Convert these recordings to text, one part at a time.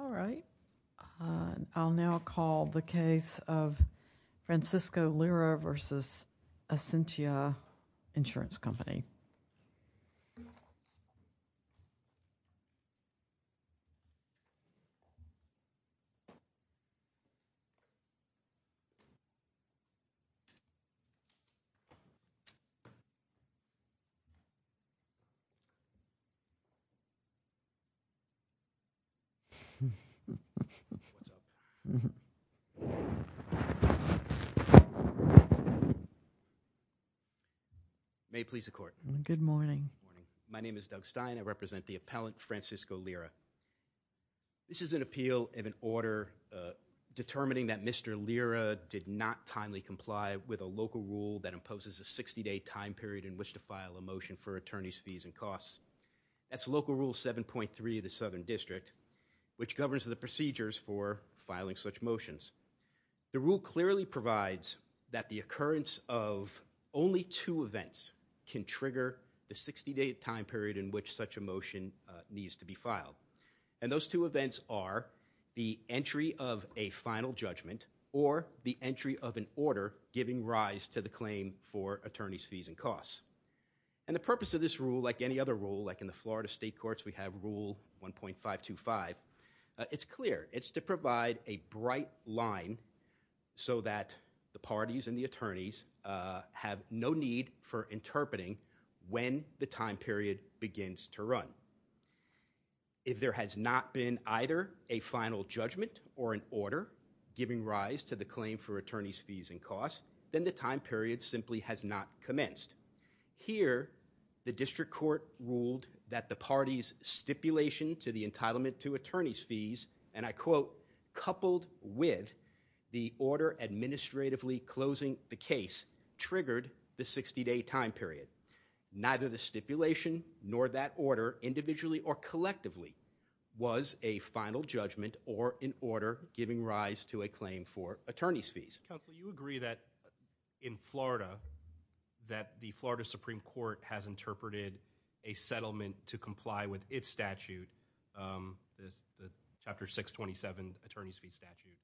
All right. I'll now call the case of Francisco Lira v. Essentia Insurance Company. May it please the Court. Good morning. My name is Doug Stein. I represent the appellant Francisco Lira. This is an appeal of an order determining that Mr. Lira did not timely comply with a local rule that imposes a 60-day time period in which to file a motion for attorney's fees and costs. That's Local Rule 7.3 of the Southern District, which governs the procedures for filing such motions. The rule clearly provides that the occurrence of only two events can trigger the 60-day time period in which such a motion needs to be filed. And those two events are the entry of a final judgment or the entry of an order giving rise to the claim for attorney's fees and costs. And the purpose of this rule, like any other rule, like in the Florida State Courts we have Rule 1.525, it's clear. It's to provide a bright line so that the parties and the attorneys have no need for interpreting when the time period begins to run. If there has not been either a final judgment or an order giving rise to the claim for attorney's fees and costs, then the time period simply has not commenced. Here, the District Court ruled that the parties' stipulation to the entitlement to attorney's fees, and I quote, coupled with the order administratively closing the case triggered the 60-day time period. Neither the stipulation nor that order, individually or collectively, was a final judgment or an order giving rise to a claim for attorney's fees. Counsel, you agree that in Florida, that the Florida Supreme Court has interpreted a settlement to comply with its statute, the Chapter 627 Attorney's Fee Statute,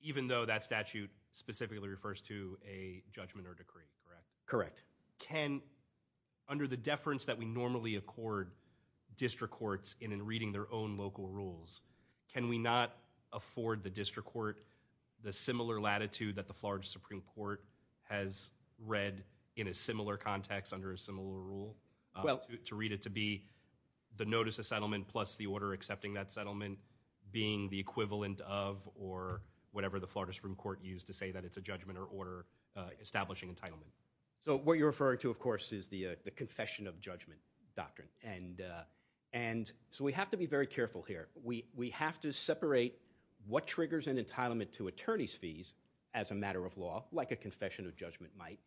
even though that statute specifically refers to a judgment or decree, correct? Correct. Can, under the deference that we normally accord District Courts in reading their own local rules, can we not afford the District Court the similar latitude that the Florida Supreme Court has read in a similar context under a similar rule to read it to be the notice of settlement plus the order accepting that settlement being the equivalent of or whatever the Florida Supreme Court used to say that it's a judgment or order establishing entitlement? So what you're referring to, of course, is the confession of judgment doctrine. And so we have to be very careful here. We have to separate what triggers an entitlement to attorney's fees as a matter of law, like a confession of judgment might,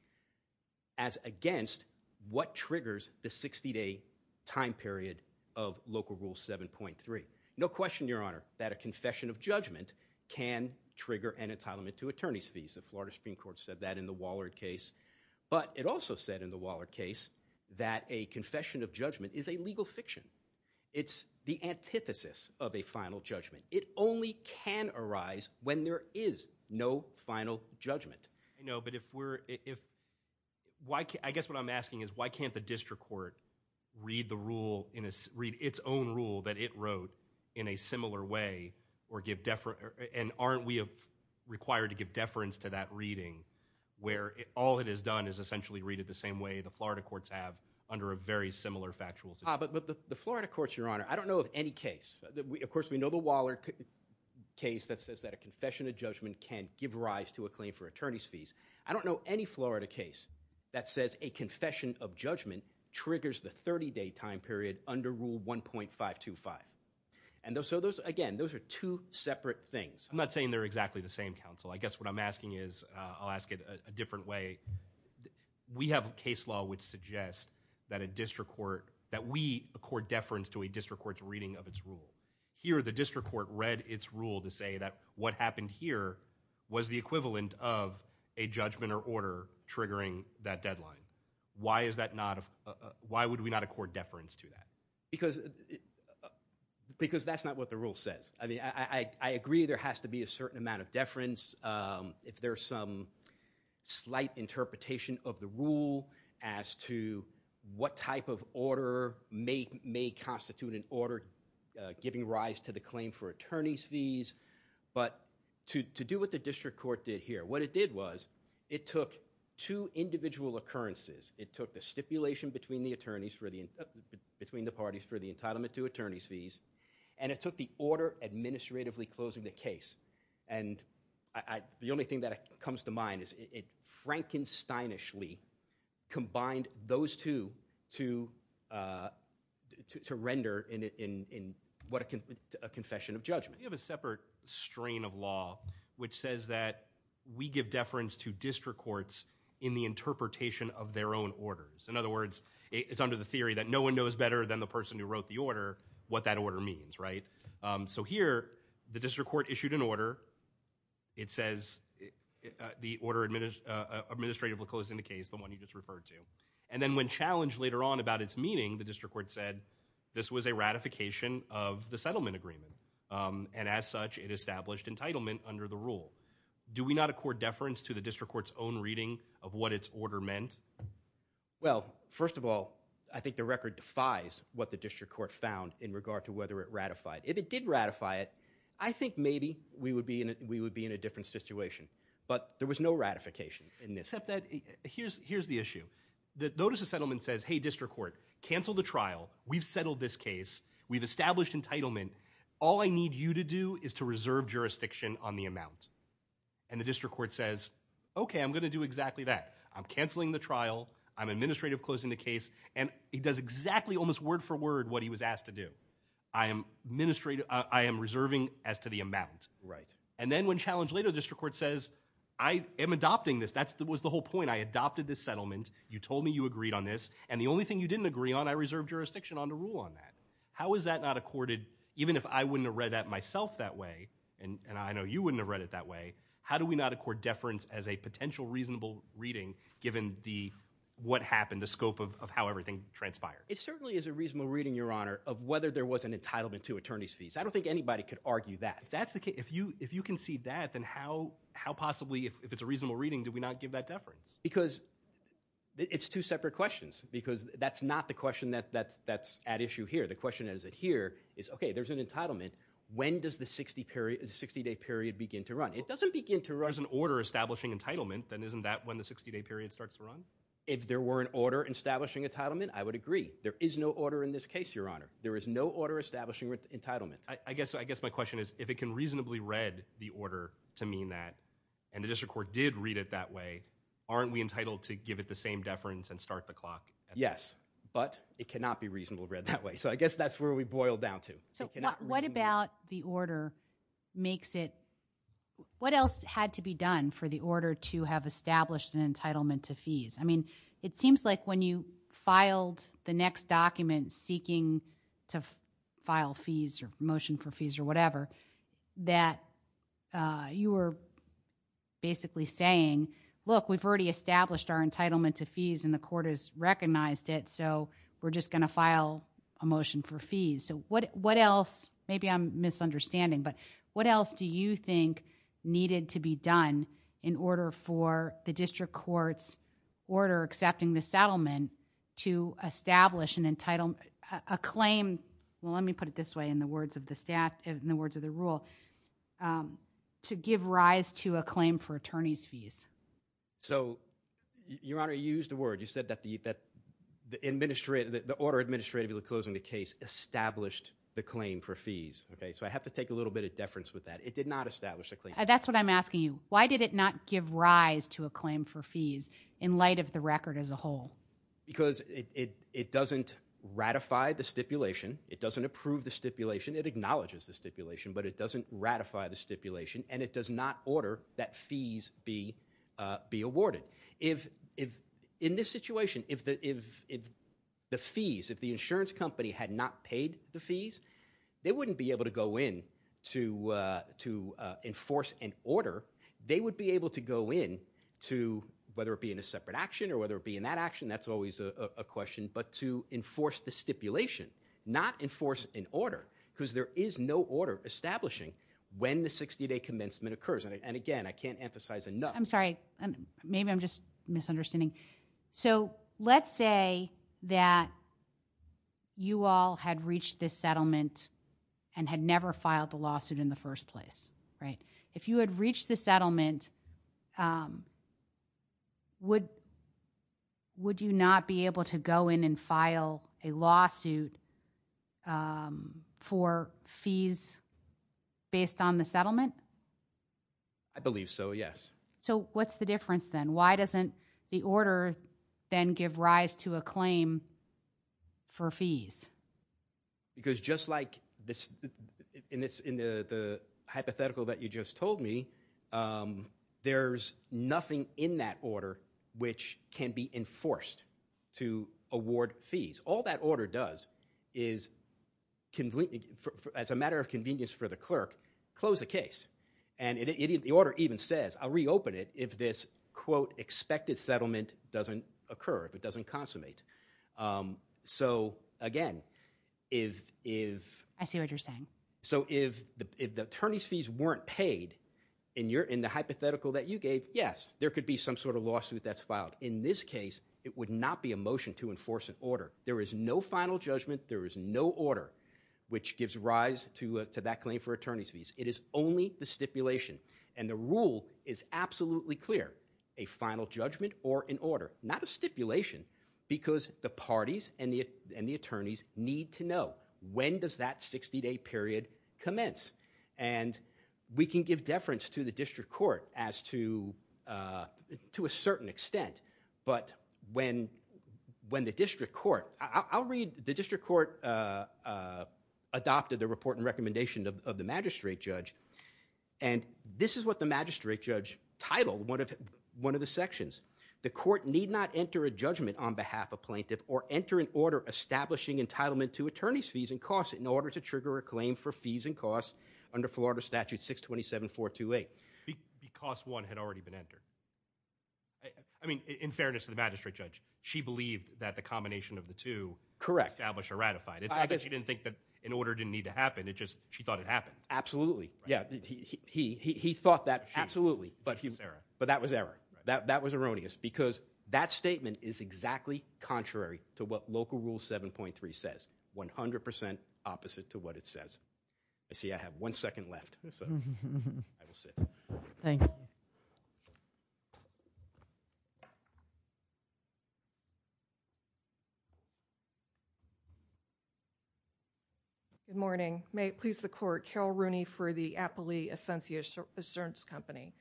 as against what triggers the 60-day time period of Local Rule 7.3. No question, Your Honor, that a confession of judgment can trigger an entitlement to attorney's fees. The Florida Supreme Court said that in the Waller case, but it also said in the Waller case that a confession of judgment is a legal fiction. It's the antithesis of a final judgment. It only can arise when there is no final judgment. I know, but if we're, if, why, I guess what I'm asking is why can't the District Court read the rule in a, read its own rule that it wrote in a similar way or give, and aren't we required to give deference to that reading where all it has done is essentially read it the same way the Florida courts have under a very similar factual system? Ah, but the Florida courts, Your Honor, I don't know of any case, of course we know the Waller case that says that a confession of judgment can give rise to a claim for attorney's fees for the 30 day time period under Rule 1.525. And so those, again, those are two separate things. I'm not saying they're exactly the same, counsel. I guess what I'm asking is, I'll ask it a different way. We have a case law which suggests that a District Court, that we accord deference to a District Court's reading of its rule. Here, the District Court read its rule to say that what happened here was the equivalent of a judgment or order triggering that deadline. Why is that not, why would we not accord deference to that? Because, because that's not what the rule says. I mean, I agree there has to be a certain amount of deference if there's some slight interpretation of the rule as to what type of order may constitute an order giving rise to the claim for attorney's fees. But to do what the District Court did here, what it did was, it took two individual occurrences. It took the stipulation between the attorneys for the, between the parties for the entitlement to attorney's fees, and it took the order administratively closing the case. And I, the only thing that comes to mind is it Frankenstein-ishly combined those two to, to render in, in what a confession of judgment. We have a separate strain of law which says that we give deference to District Courts in the interpretation of their own orders. In other words, it's under the theory that no one knows better than the person who wrote the order what that order means, right? So here, the District Court issued an order. It says the order administratively closing the case, the one you just referred to. And then when challenged later on about its meaning, the District Court said this was a ratification of the settlement agreement. And as such, it established entitlement under the rule. Do we not accord deference to the District Court's own reading of what its order meant? Well, first of all, I think the record defies what the District Court found in regard to whether it ratified. If it did ratify it, I think maybe we would be in, we would be in a different situation. But there was no ratification in this. Except that, here's, here's the issue. Notice the settlement says, hey, District Court, cancel the trial. We've settled this case. We've established entitlement. All I need you to do is to reserve jurisdiction on the amount. And the District Court says, okay, I'm going to do exactly that. I'm canceling the trial. I'm administrative closing the case. And it does exactly, almost word for word, what he was asked to do. I am administrative, I am reserving as to the amount. Right. And then when challenged later, the District Court says, I am adopting this. That's, that was the whole point. I adopted this settlement. You told me you agreed on this. And the only thing you didn't agree on, I reserve jurisdiction on to rule on that. How is that not accorded, even if I wouldn't have read that myself that way, and I know you wouldn't have read it that way, how do we not accord deference as a potential reasonable reading given the, what happened, the scope of how everything transpired? It certainly is a reasonable reading, Your Honor, of whether there was an entitlement to attorney's fees. I don't think anybody could argue that. That's the case. If you, if you can see that, then how, how possibly, if it's a reasonable reading, do we not give that deference? Because it's two separate questions, because that's not the question that, that's, that's at issue here. The question is that here is, okay, there's an entitlement. When does the 60 period, the 60 day period begin to run? It doesn't begin to run. There's an order establishing entitlement, then isn't that when the 60 day period starts to run? If there were an order establishing entitlement, I would agree. There is no order in this case, Your Honor. There is no order establishing entitlement. I guess, I guess my question is, if it can reasonably read the order to mean that, and the district court did read it that way, aren't we entitled to give it the same deference and start the clock? Yes, but it cannot be reasonably read that way. So I guess that's where we boil down to. What about the order makes it, what else had to be done for the order to have established an entitlement to fees? I mean, it seems like when you filed the next document seeking to you were basically saying, look, we've already established our entitlement to fees and the court has recognized it, so we're just going to file a motion for fees. So what else, maybe I'm misunderstanding, but what else do you think needed to be done in order for the district court's order accepting the settlement to establish an entitlement, a claim? Well, let me put it this way in the words of the staff, in the words of the rule, to give rise to a claim for attorney's fees. So Your Honor, you used the word, you said that the order administratively closing the case established the claim for fees. Okay, so I have to take a little bit of deference with that. It did not establish a claim. That's what I'm asking you. Why did it not give rise to a claim for fees in light of the record as a whole? Because it doesn't ratify the stipulation, it doesn't approve the stipulation, it acknowledges the stipulation, but it doesn't ratify the stipulation and it does not order that fees be awarded. In this situation, if the fees, if the insurance company had not paid the fees, they wouldn't be able to go in to enforce an order. They would be able to go in to, whether it be in a separate action or whether it be in that action, that's always a question, but to enforce the stipulation, not enforce an order, because there is no order establishing when the 60 day commencement occurs. And again, I can't emphasize enough. I'm sorry, maybe I'm just misunderstanding. So let's say that you all had reached this settlement and had never filed the lawsuit in the first place, right? If you had reached the settlement, would you not be able to go in and file a lawsuit? A lawsuit for fees based on the settlement? I believe so, yes. So what's the difference then? Why doesn't the order then give rise to a claim for fees? Because just like in the hypothetical that you just told me, there's nothing in that case that the order does is, as a matter of convenience for the clerk, close the case. And the order even says, I'll reopen it if this, quote, expected settlement doesn't occur, if it doesn't consummate. So, again, if the attorney's fees weren't paid, in the hypothetical that you gave, yes, there could be some sort of lawsuit that's filed. In this case, it is no final judgment, there is no order, which gives rise to that claim for attorney's fees. It is only the stipulation. And the rule is absolutely clear. A final judgment or an order. Not a stipulation, because the parties and the attorneys need to know, when does that 60-day period commence? And we can give deference to the district court as to a certain extent. But when the district court, I'll read the district court adopted the report and recommendation of the magistrate judge. And this is what the magistrate judge titled one of the sections. The court need not enter a judgment on behalf of plaintiff or enter an order establishing entitlement to attorney's fees and costs in order to trigger a claim for fees and costs under Florida Statute 627-428. Because one had already been entered. I mean, in fairness to the magistrate judge, she believed that the combination of the two established or ratified. It's not that she didn't think that an order didn't need to happen, it's just she thought it happened. Absolutely. He thought that, absolutely, but that was error. That was erroneous. Because that statement is exactly contrary to what local rule 7.3 says. 100% opposite to what it says. I see I have one second left. I will sit. Thank you. Good morning. May it please the court. Carol Rooney for the Appley Assurance Company.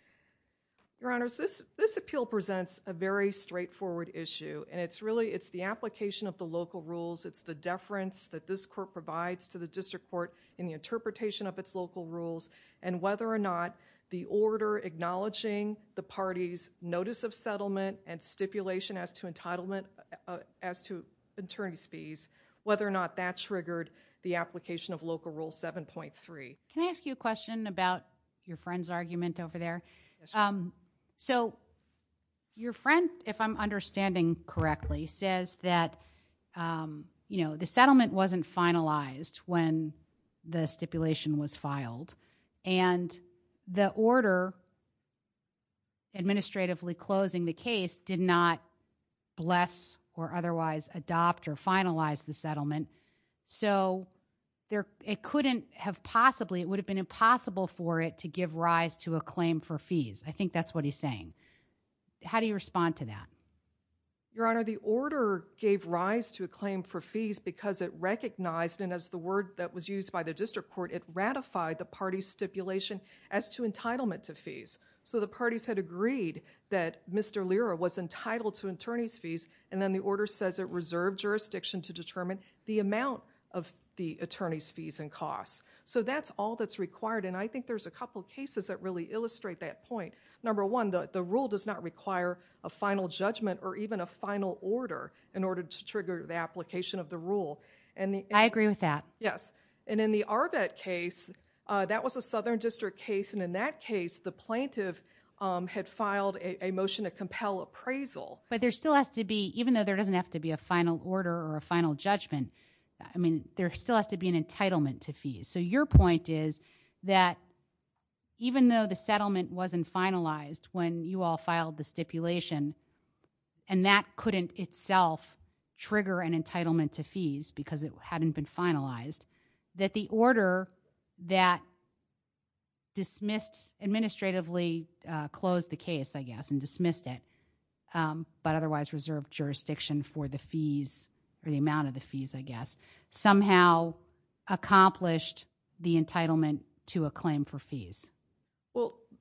Your honors, this appeal presents a very straightforward issue. And it's really it's the application of the local rules. It's the deference that this court provides to the district court in the interpretation of its local rules and whether or not the order acknowledging the party's notice of settlement and stipulation as to entitlement as to attorney's fees, whether or not that triggered the application of local rule 7.3. Can I ask you a question about your friend's argument over there? So your friend, if I'm correct, was in the case when the stipulation was filed and the order administratively closing the case did not bless or otherwise adopt or finalize the settlement. So it couldn't have possibly, it would have been impossible for it to give rise to a claim for fees. I think that's what he's saying. How do you respond to that? Your honor, the order gave rise to a claim for fees because it recognized and as the word that was used by the district court, it ratified the party's stipulation as to entitlement to fees. So the parties had agreed that Mr. Lira was entitled to attorney's fees and then the order says it reserved jurisdiction to determine the amount of the attorney's fees and costs. So that's all that's required and I think there's a couple cases that really illustrate that point. Number one, the rule does not require a final judgment or even a final order in order to trigger the application of the rule. I agree with that. Yes. And in the Arbet case, that was a southern district case and in that case, the plaintiff had filed a motion to compel appraisal. But there still has to be, even though there doesn't have to be a final order or a final judgment, I mean, there still has to be an entitlement to fees. So your point is that even though the settlement wasn't finalized when you all filed the stipulation and that couldn't itself trigger an entitlement to fees because it hadn't been finalized, that the order that dismissed, administratively closed the case, I guess, and dismissed it, but otherwise reserved jurisdiction for the fees or the amount of the fees, I guess, somehow accomplished the entitlement to a claim for fees.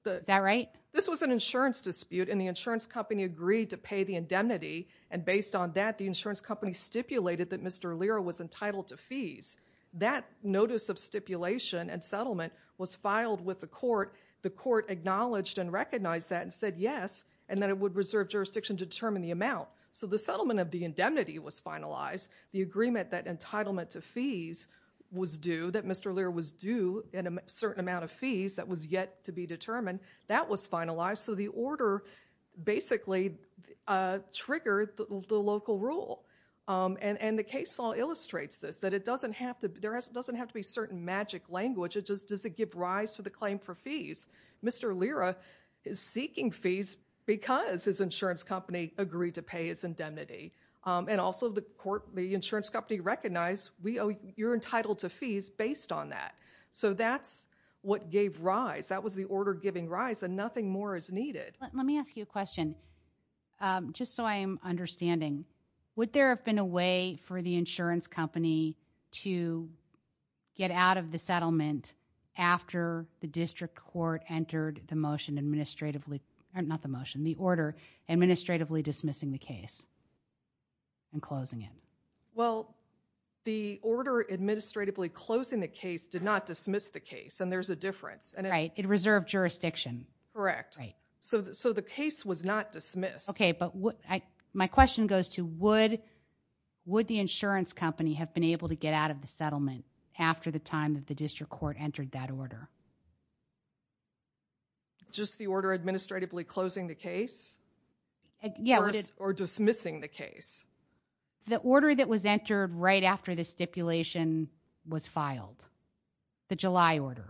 Is that right? This was an insurance dispute and the insurance company agreed to pay the indemnity and based on that, the insurance company stipulated that Mr. Allira was entitled to fees. That notice of stipulation and settlement was filed with the court. The court acknowledged and recognized that and said yes and that it would reserve jurisdiction to determine the amount. So the settlement of the indemnity was finalized. The agreement that entitlement to fees was due, that Mr. Allira was due a certain amount of fees that was yet to be determined, that was finalized. So the order basically triggered the local rule. And the case law illustrates this, that it doesn't have to be certain magic language. It just doesn't give rise to the claim for fees. Mr. Allira is seeking fees because his insurance company agreed to pay his indemnity. And also the insurance company recognized, you're entitled to fees based on that. So that's what gave rise. That was the order giving rise and nothing more is needed. Let me ask you a question. Just so I am understanding, would there have been a way for the insurance company to get out of the settlement after the district court entered the order administratively dismissing the case and closing it? Well, the order administratively closing the case did not dismiss the case and there's a difference. Right, it reserved jurisdiction. Correct. So the case was not dismissed. Okay, but my question goes to would the insurance company have been able to get out of the settlement after the time that the district court entered that order? Just the order administratively closing the case or dismissing the case. The order that was entered right after the stipulation was filed, the July order.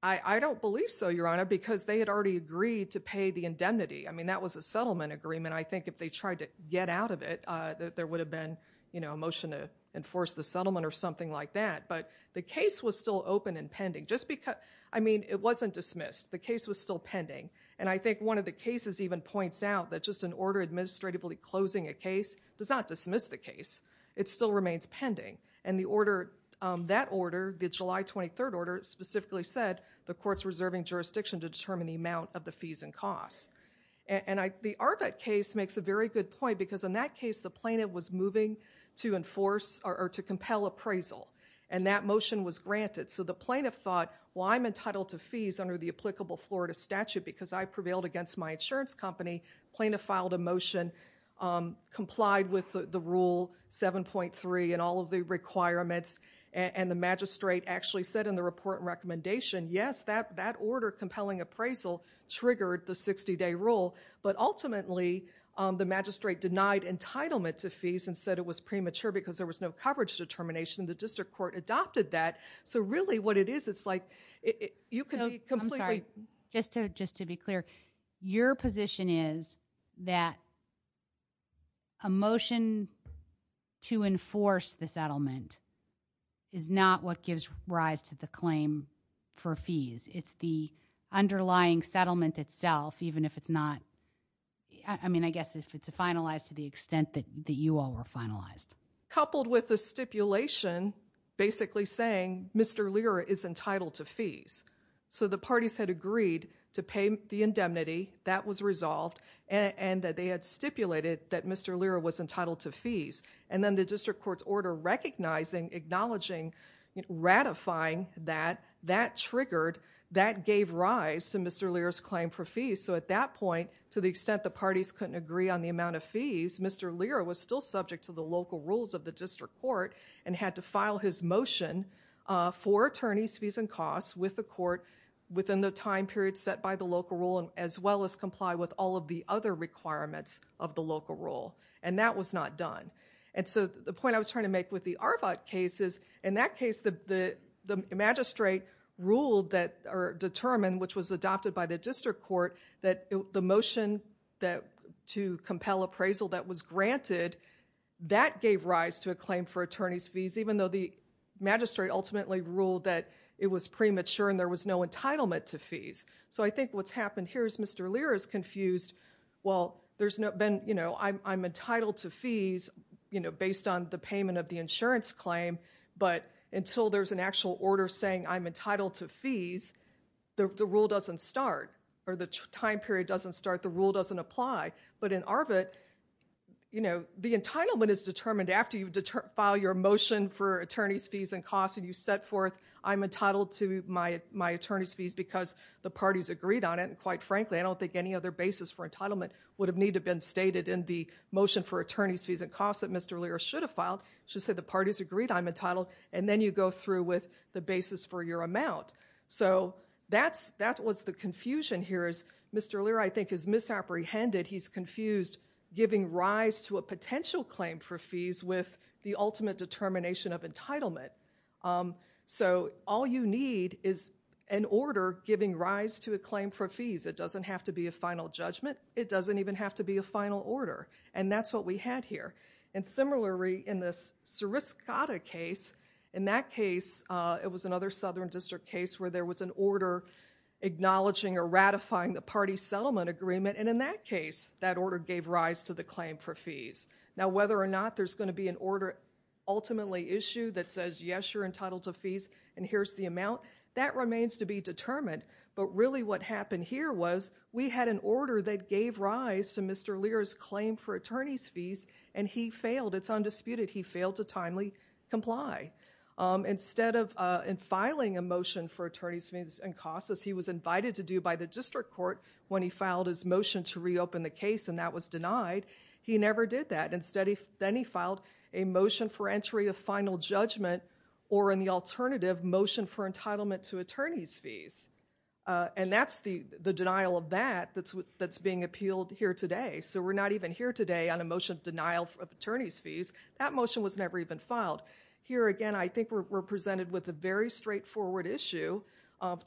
I don't believe so, Your Honor, because they had already agreed to pay the indemnity. I mean, that was a settlement agreement. I think if they tried to get out of it, that there would have been a motion to enforce the settlement or something like that. But the case was still open and pending. I mean, it wasn't dismissed. The case was still pending and I think one of the cases even points out that just an order administratively closing a case does not dismiss the case. It still remains pending and that order, the July 23rd order, specifically said the court's reserving jurisdiction to determine the amount of the fees and costs. And the Arvett case makes a very good point because in that case, the plaintiff was moving to enforce or to compel appraisal and that applicable Florida statute because I prevailed against my insurance company. Plaintiff filed a motion, complied with the rule 7.3 and all of the requirements and the magistrate actually said in the report and recommendation, yes, that order compelling appraisal triggered the 60-day rule. But ultimately, the magistrate denied entitlement to fees and said it was premature because there was no coverage determination. The district court adopted that. So really what it is, it's like, you can be completely... I'm sorry, just to be clear, your position is that a motion to enforce the settlement is not what gives rise to the claim for fees. It's the underlying settlement itself, even if it's not, I mean, I guess if it's finalized to the extent that you all were finalized. Coupled with the stipulation basically saying Mr. Lira is entitled to fees. So the parties had agreed to pay the indemnity, that was resolved and that they had stipulated that Mr. Lira was entitled to fees. And then the district court's order recognizing, acknowledging, ratifying that, that triggered, that gave rise to Mr. Lira's claim for fees. So at that point, to the extent the parties couldn't agree on the amount of fees, Mr. Lira was still subject to the local rules of the district court and had to file his motion for attorney's fees and costs with the court within the time period set by the local rule, as well as comply with all of the other requirements of the local rule. And that was not done. And so the point I was trying to make with the Arvot case is, in that case, the magistrate ruled that or determined, which was adopted by the district court, that the motion to compel appraisal that was granted, that gave rise to a claim for attorney's fees, even though the magistrate ultimately ruled that it was premature and there was no entitlement to fees. So I think what's happened here is Mr. Lira is confused. Well, there's been, you know, I'm entitled to fees, you know, based on the payment of the insurance claim. But until there's an actual order saying I'm entitled to fees, the rule doesn't start, or the time period doesn't start, the rule doesn't apply. But in Arvot, you know, the entitlement is determined after you file your motion for attorney's fees and costs and you set forth I'm entitled to my attorney's fees because the parties agreed on it. And quite frankly, I don't think any other basis for entitlement would have needed to be stated in the motion for attorney's fees and costs that Mr. Lira should have filed. He should have said the parties agreed, I'm entitled, and then you go through with the basis for your amount. So that was the confusion here is Mr. Lira, I think, is misapprehended. He's confused giving rise to a potential claim for fees with the ultimate determination of entitlement. So all you need is an order giving rise to a claim for fees. It doesn't have to be a final judgment. It doesn't even have to be a final order. And that's what we had here. And similarly, in the Sariscotta case, in that case, it was another Southern District case where there was an order acknowledging or ratifying the party settlement agreement. And in that case, that order gave rise to the claim for fees. Now, whether or not there's going to be an order ultimately issued that says, yes, you're entitled to fees and here's the amount, that remains to be determined. But really what happened here was we had an he failed. It's undisputed. He failed to timely comply. Instead of filing a motion for attorney's fees and costs, as he was invited to do by the district court when he filed his motion to reopen the case and that was denied, he never did that. Then he filed a motion for entry of final judgment or in the alternative, motion for entitlement to attorney's fees. And that's the denial of that that's being appealed here today. So we're not even here today on a motion of denial of attorney's fees. That motion was never even filed. Here again, I think we're presented with a very straightforward issue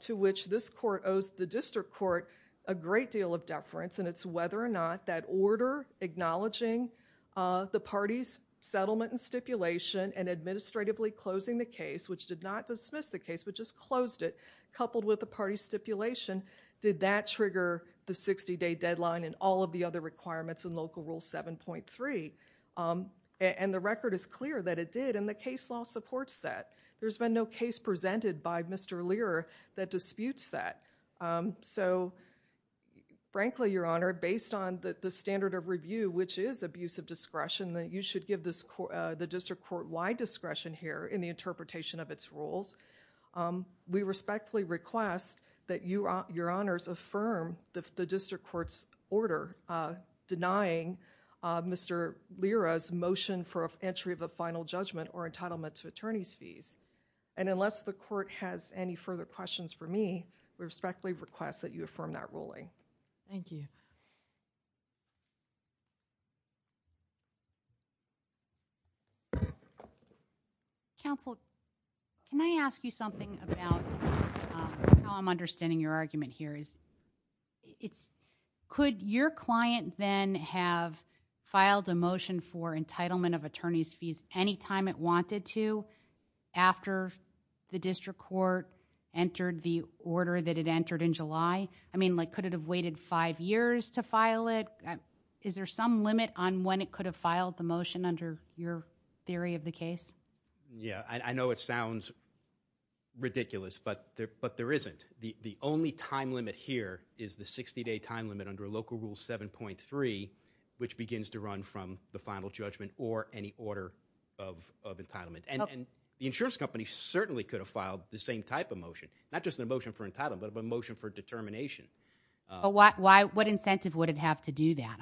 to which this court owes the district court a great deal of deference and it's whether or not that order acknowledging the party's settlement and stipulation and administratively closing the case, which did not dismiss the case but just closed it, coupled with the party stipulation, did that trigger the 60-day deadline and all of the other requirements in Local Rule 7.3. And the record is clear that it did and the case law supports that. There's been no case presented by Mr. Lear that disputes that. So frankly, Your Honor, based on the standard of review, which is abuse of discretion, that you should give the district court wide discretion here in the interpretation of its rules, we respectfully request that Your Honors affirm the district court's order denying Mr. Lear's motion for entry of a final judgment or entitlement to attorney's fees. And unless the court has any further questions for me, we respectfully request that you affirm that ruling. Thank you. Counsel, can I ask you something about how I'm understanding your argument here? Could your client then have filed a motion for entitlement of attorney's fees any time it wanted to after the district court entered the order that it entered in July? I mean, could it have taken five years to file it? Is there some limit on when it could have filed the motion under your theory of the case? Yeah, I know it sounds ridiculous, but there isn't. The only time limit here is the 60-day time limit under Local Rule 7.3, which begins to run from the final judgment or any order of entitlement. And the insurance company certainly could have filed the same type of motion, not just a motion for entitlement, but a motion for determination. But what incentive would it have to do that?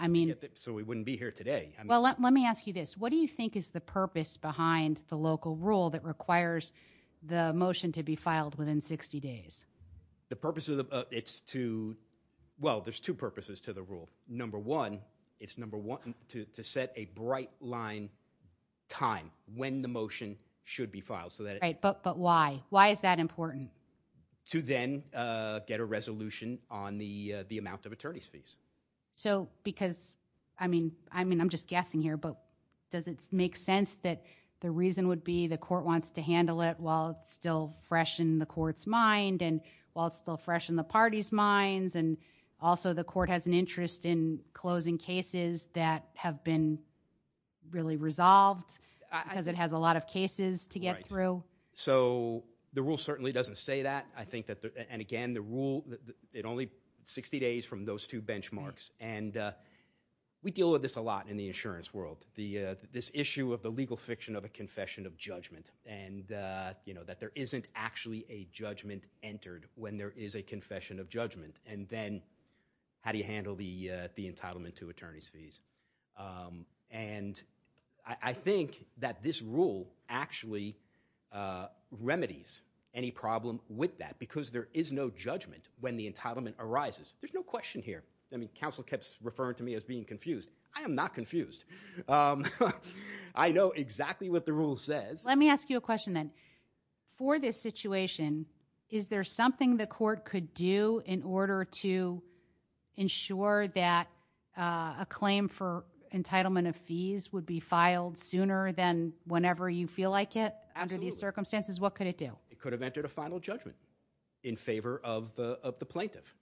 So we wouldn't be here today. Well, let me ask you this. What do you think is the purpose behind the local rule that requires the motion to be filed within 60 days? The purpose of the, it's to, well, there's two purposes to the rule. Number one, it's number one to set a bright line time when the motion should be filed. Right, but why? Why is that important? To then get a resolution on the amount of attorney's fees. So because, I mean, I'm just guessing here, but does it make sense that the reason would be the court wants to handle it while it's still fresh in the court's mind and while it's still fresh in the party's minds and also the court has an interest in closing cases that have been really resolved because it has a lot of cases to get through? So the rule certainly doesn't say that. I think that, and again, the rule, it only 60 days from those two benchmarks. And we deal with this a lot in the insurance world. This issue of the legal fiction of a confession of judgment and that there isn't actually a judgment entered when there is a confession of judgment. And then how do you handle the entitlement to attorney's fees? And I think that this rule actually remedies any problem with that because there is no judgment when the entitlement arises. There's no question here. I mean, counsel kept referring to me as being confused. I am not confused. I know exactly what the rule says. Let me ask you a question then. For this situation, is there something the court could do in order to ensure that a claim for entitlement of fees would be filed sooner than whenever you feel like it? Absolutely. Under these circumstances, what could it do? It could have entered a final judgment in favor of the plaintiff,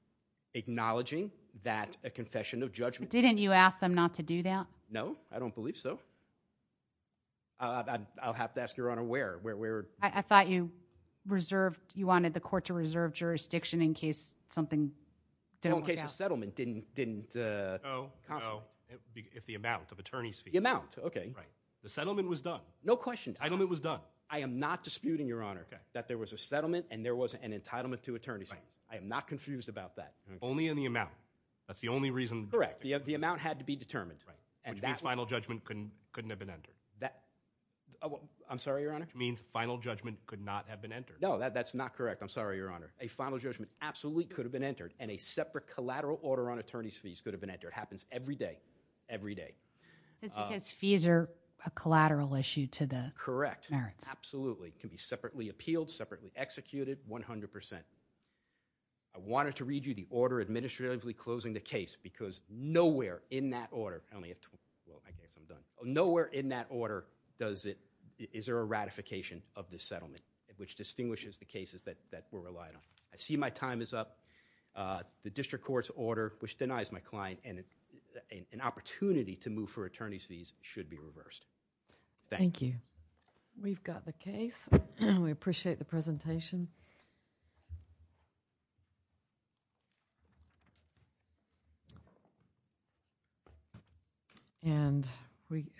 acknowledging that a confession of judgment. Didn't you ask them not to do that? No, I don't believe so. I'll have to ask your Honor where. I thought you reserved, you wanted the court to reserve jurisdiction in case something didn't work out. Well, in case the settlement didn't. No, if the amount of attorney's fees. The amount, okay. The settlement was done. No question. The entitlement was done. I am not disputing, your Honor, that there was a settlement and there was an entitlement to attorney's fees. I am not confused about that. Only in the amount. That's the only reason. Correct. The amount had to be determined. Which means final judgment couldn't have been entered. I'm sorry, your Honor? Which means final judgment could not have been entered. No, that's not correct. I'm sorry, your Honor. A final judgment absolutely could have been entered and a separate collateral order on attorney's fees could have been entered. Happens every day. Every day. It's because fees are a collateral issue to the merits. Correct. Absolutely. It can be separately appealed, separately executed, 100%. I wanted to read you the order administratively closing the case because nowhere in that order does it, is there a ratification of this settlement, which distinguishes the cases that we're relying on. I see my time is up. The district court's order, which denies my client an opportunity to move for attorney's fees, should be reversed. Thank you. Thank you. We've got the case. We appreciate the presentation.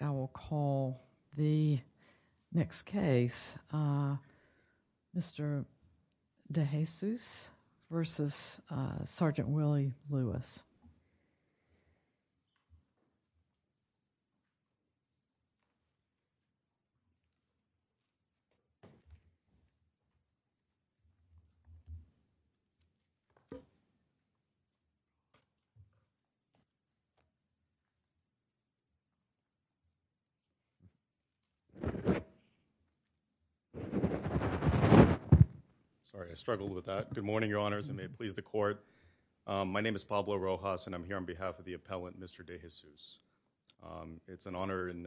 I will call the next case, Mr. DeJesus v. Sgt. Willie Lewis. Mr. DeJesus. Thank you, Your Honor. Thank you, Mr. DeJesus. Thank you, Mr. DeJesus. Sorry, I struggled with that. Good morning, Your Honors, and may it please the court. My name is Pablo Rojas, and I'm here on behalf of the appellant, Mr. DeJesus. It's an honor and a privilege to be here. I'm here on behalf of the appellant, Mr. DeJesus. It's an honor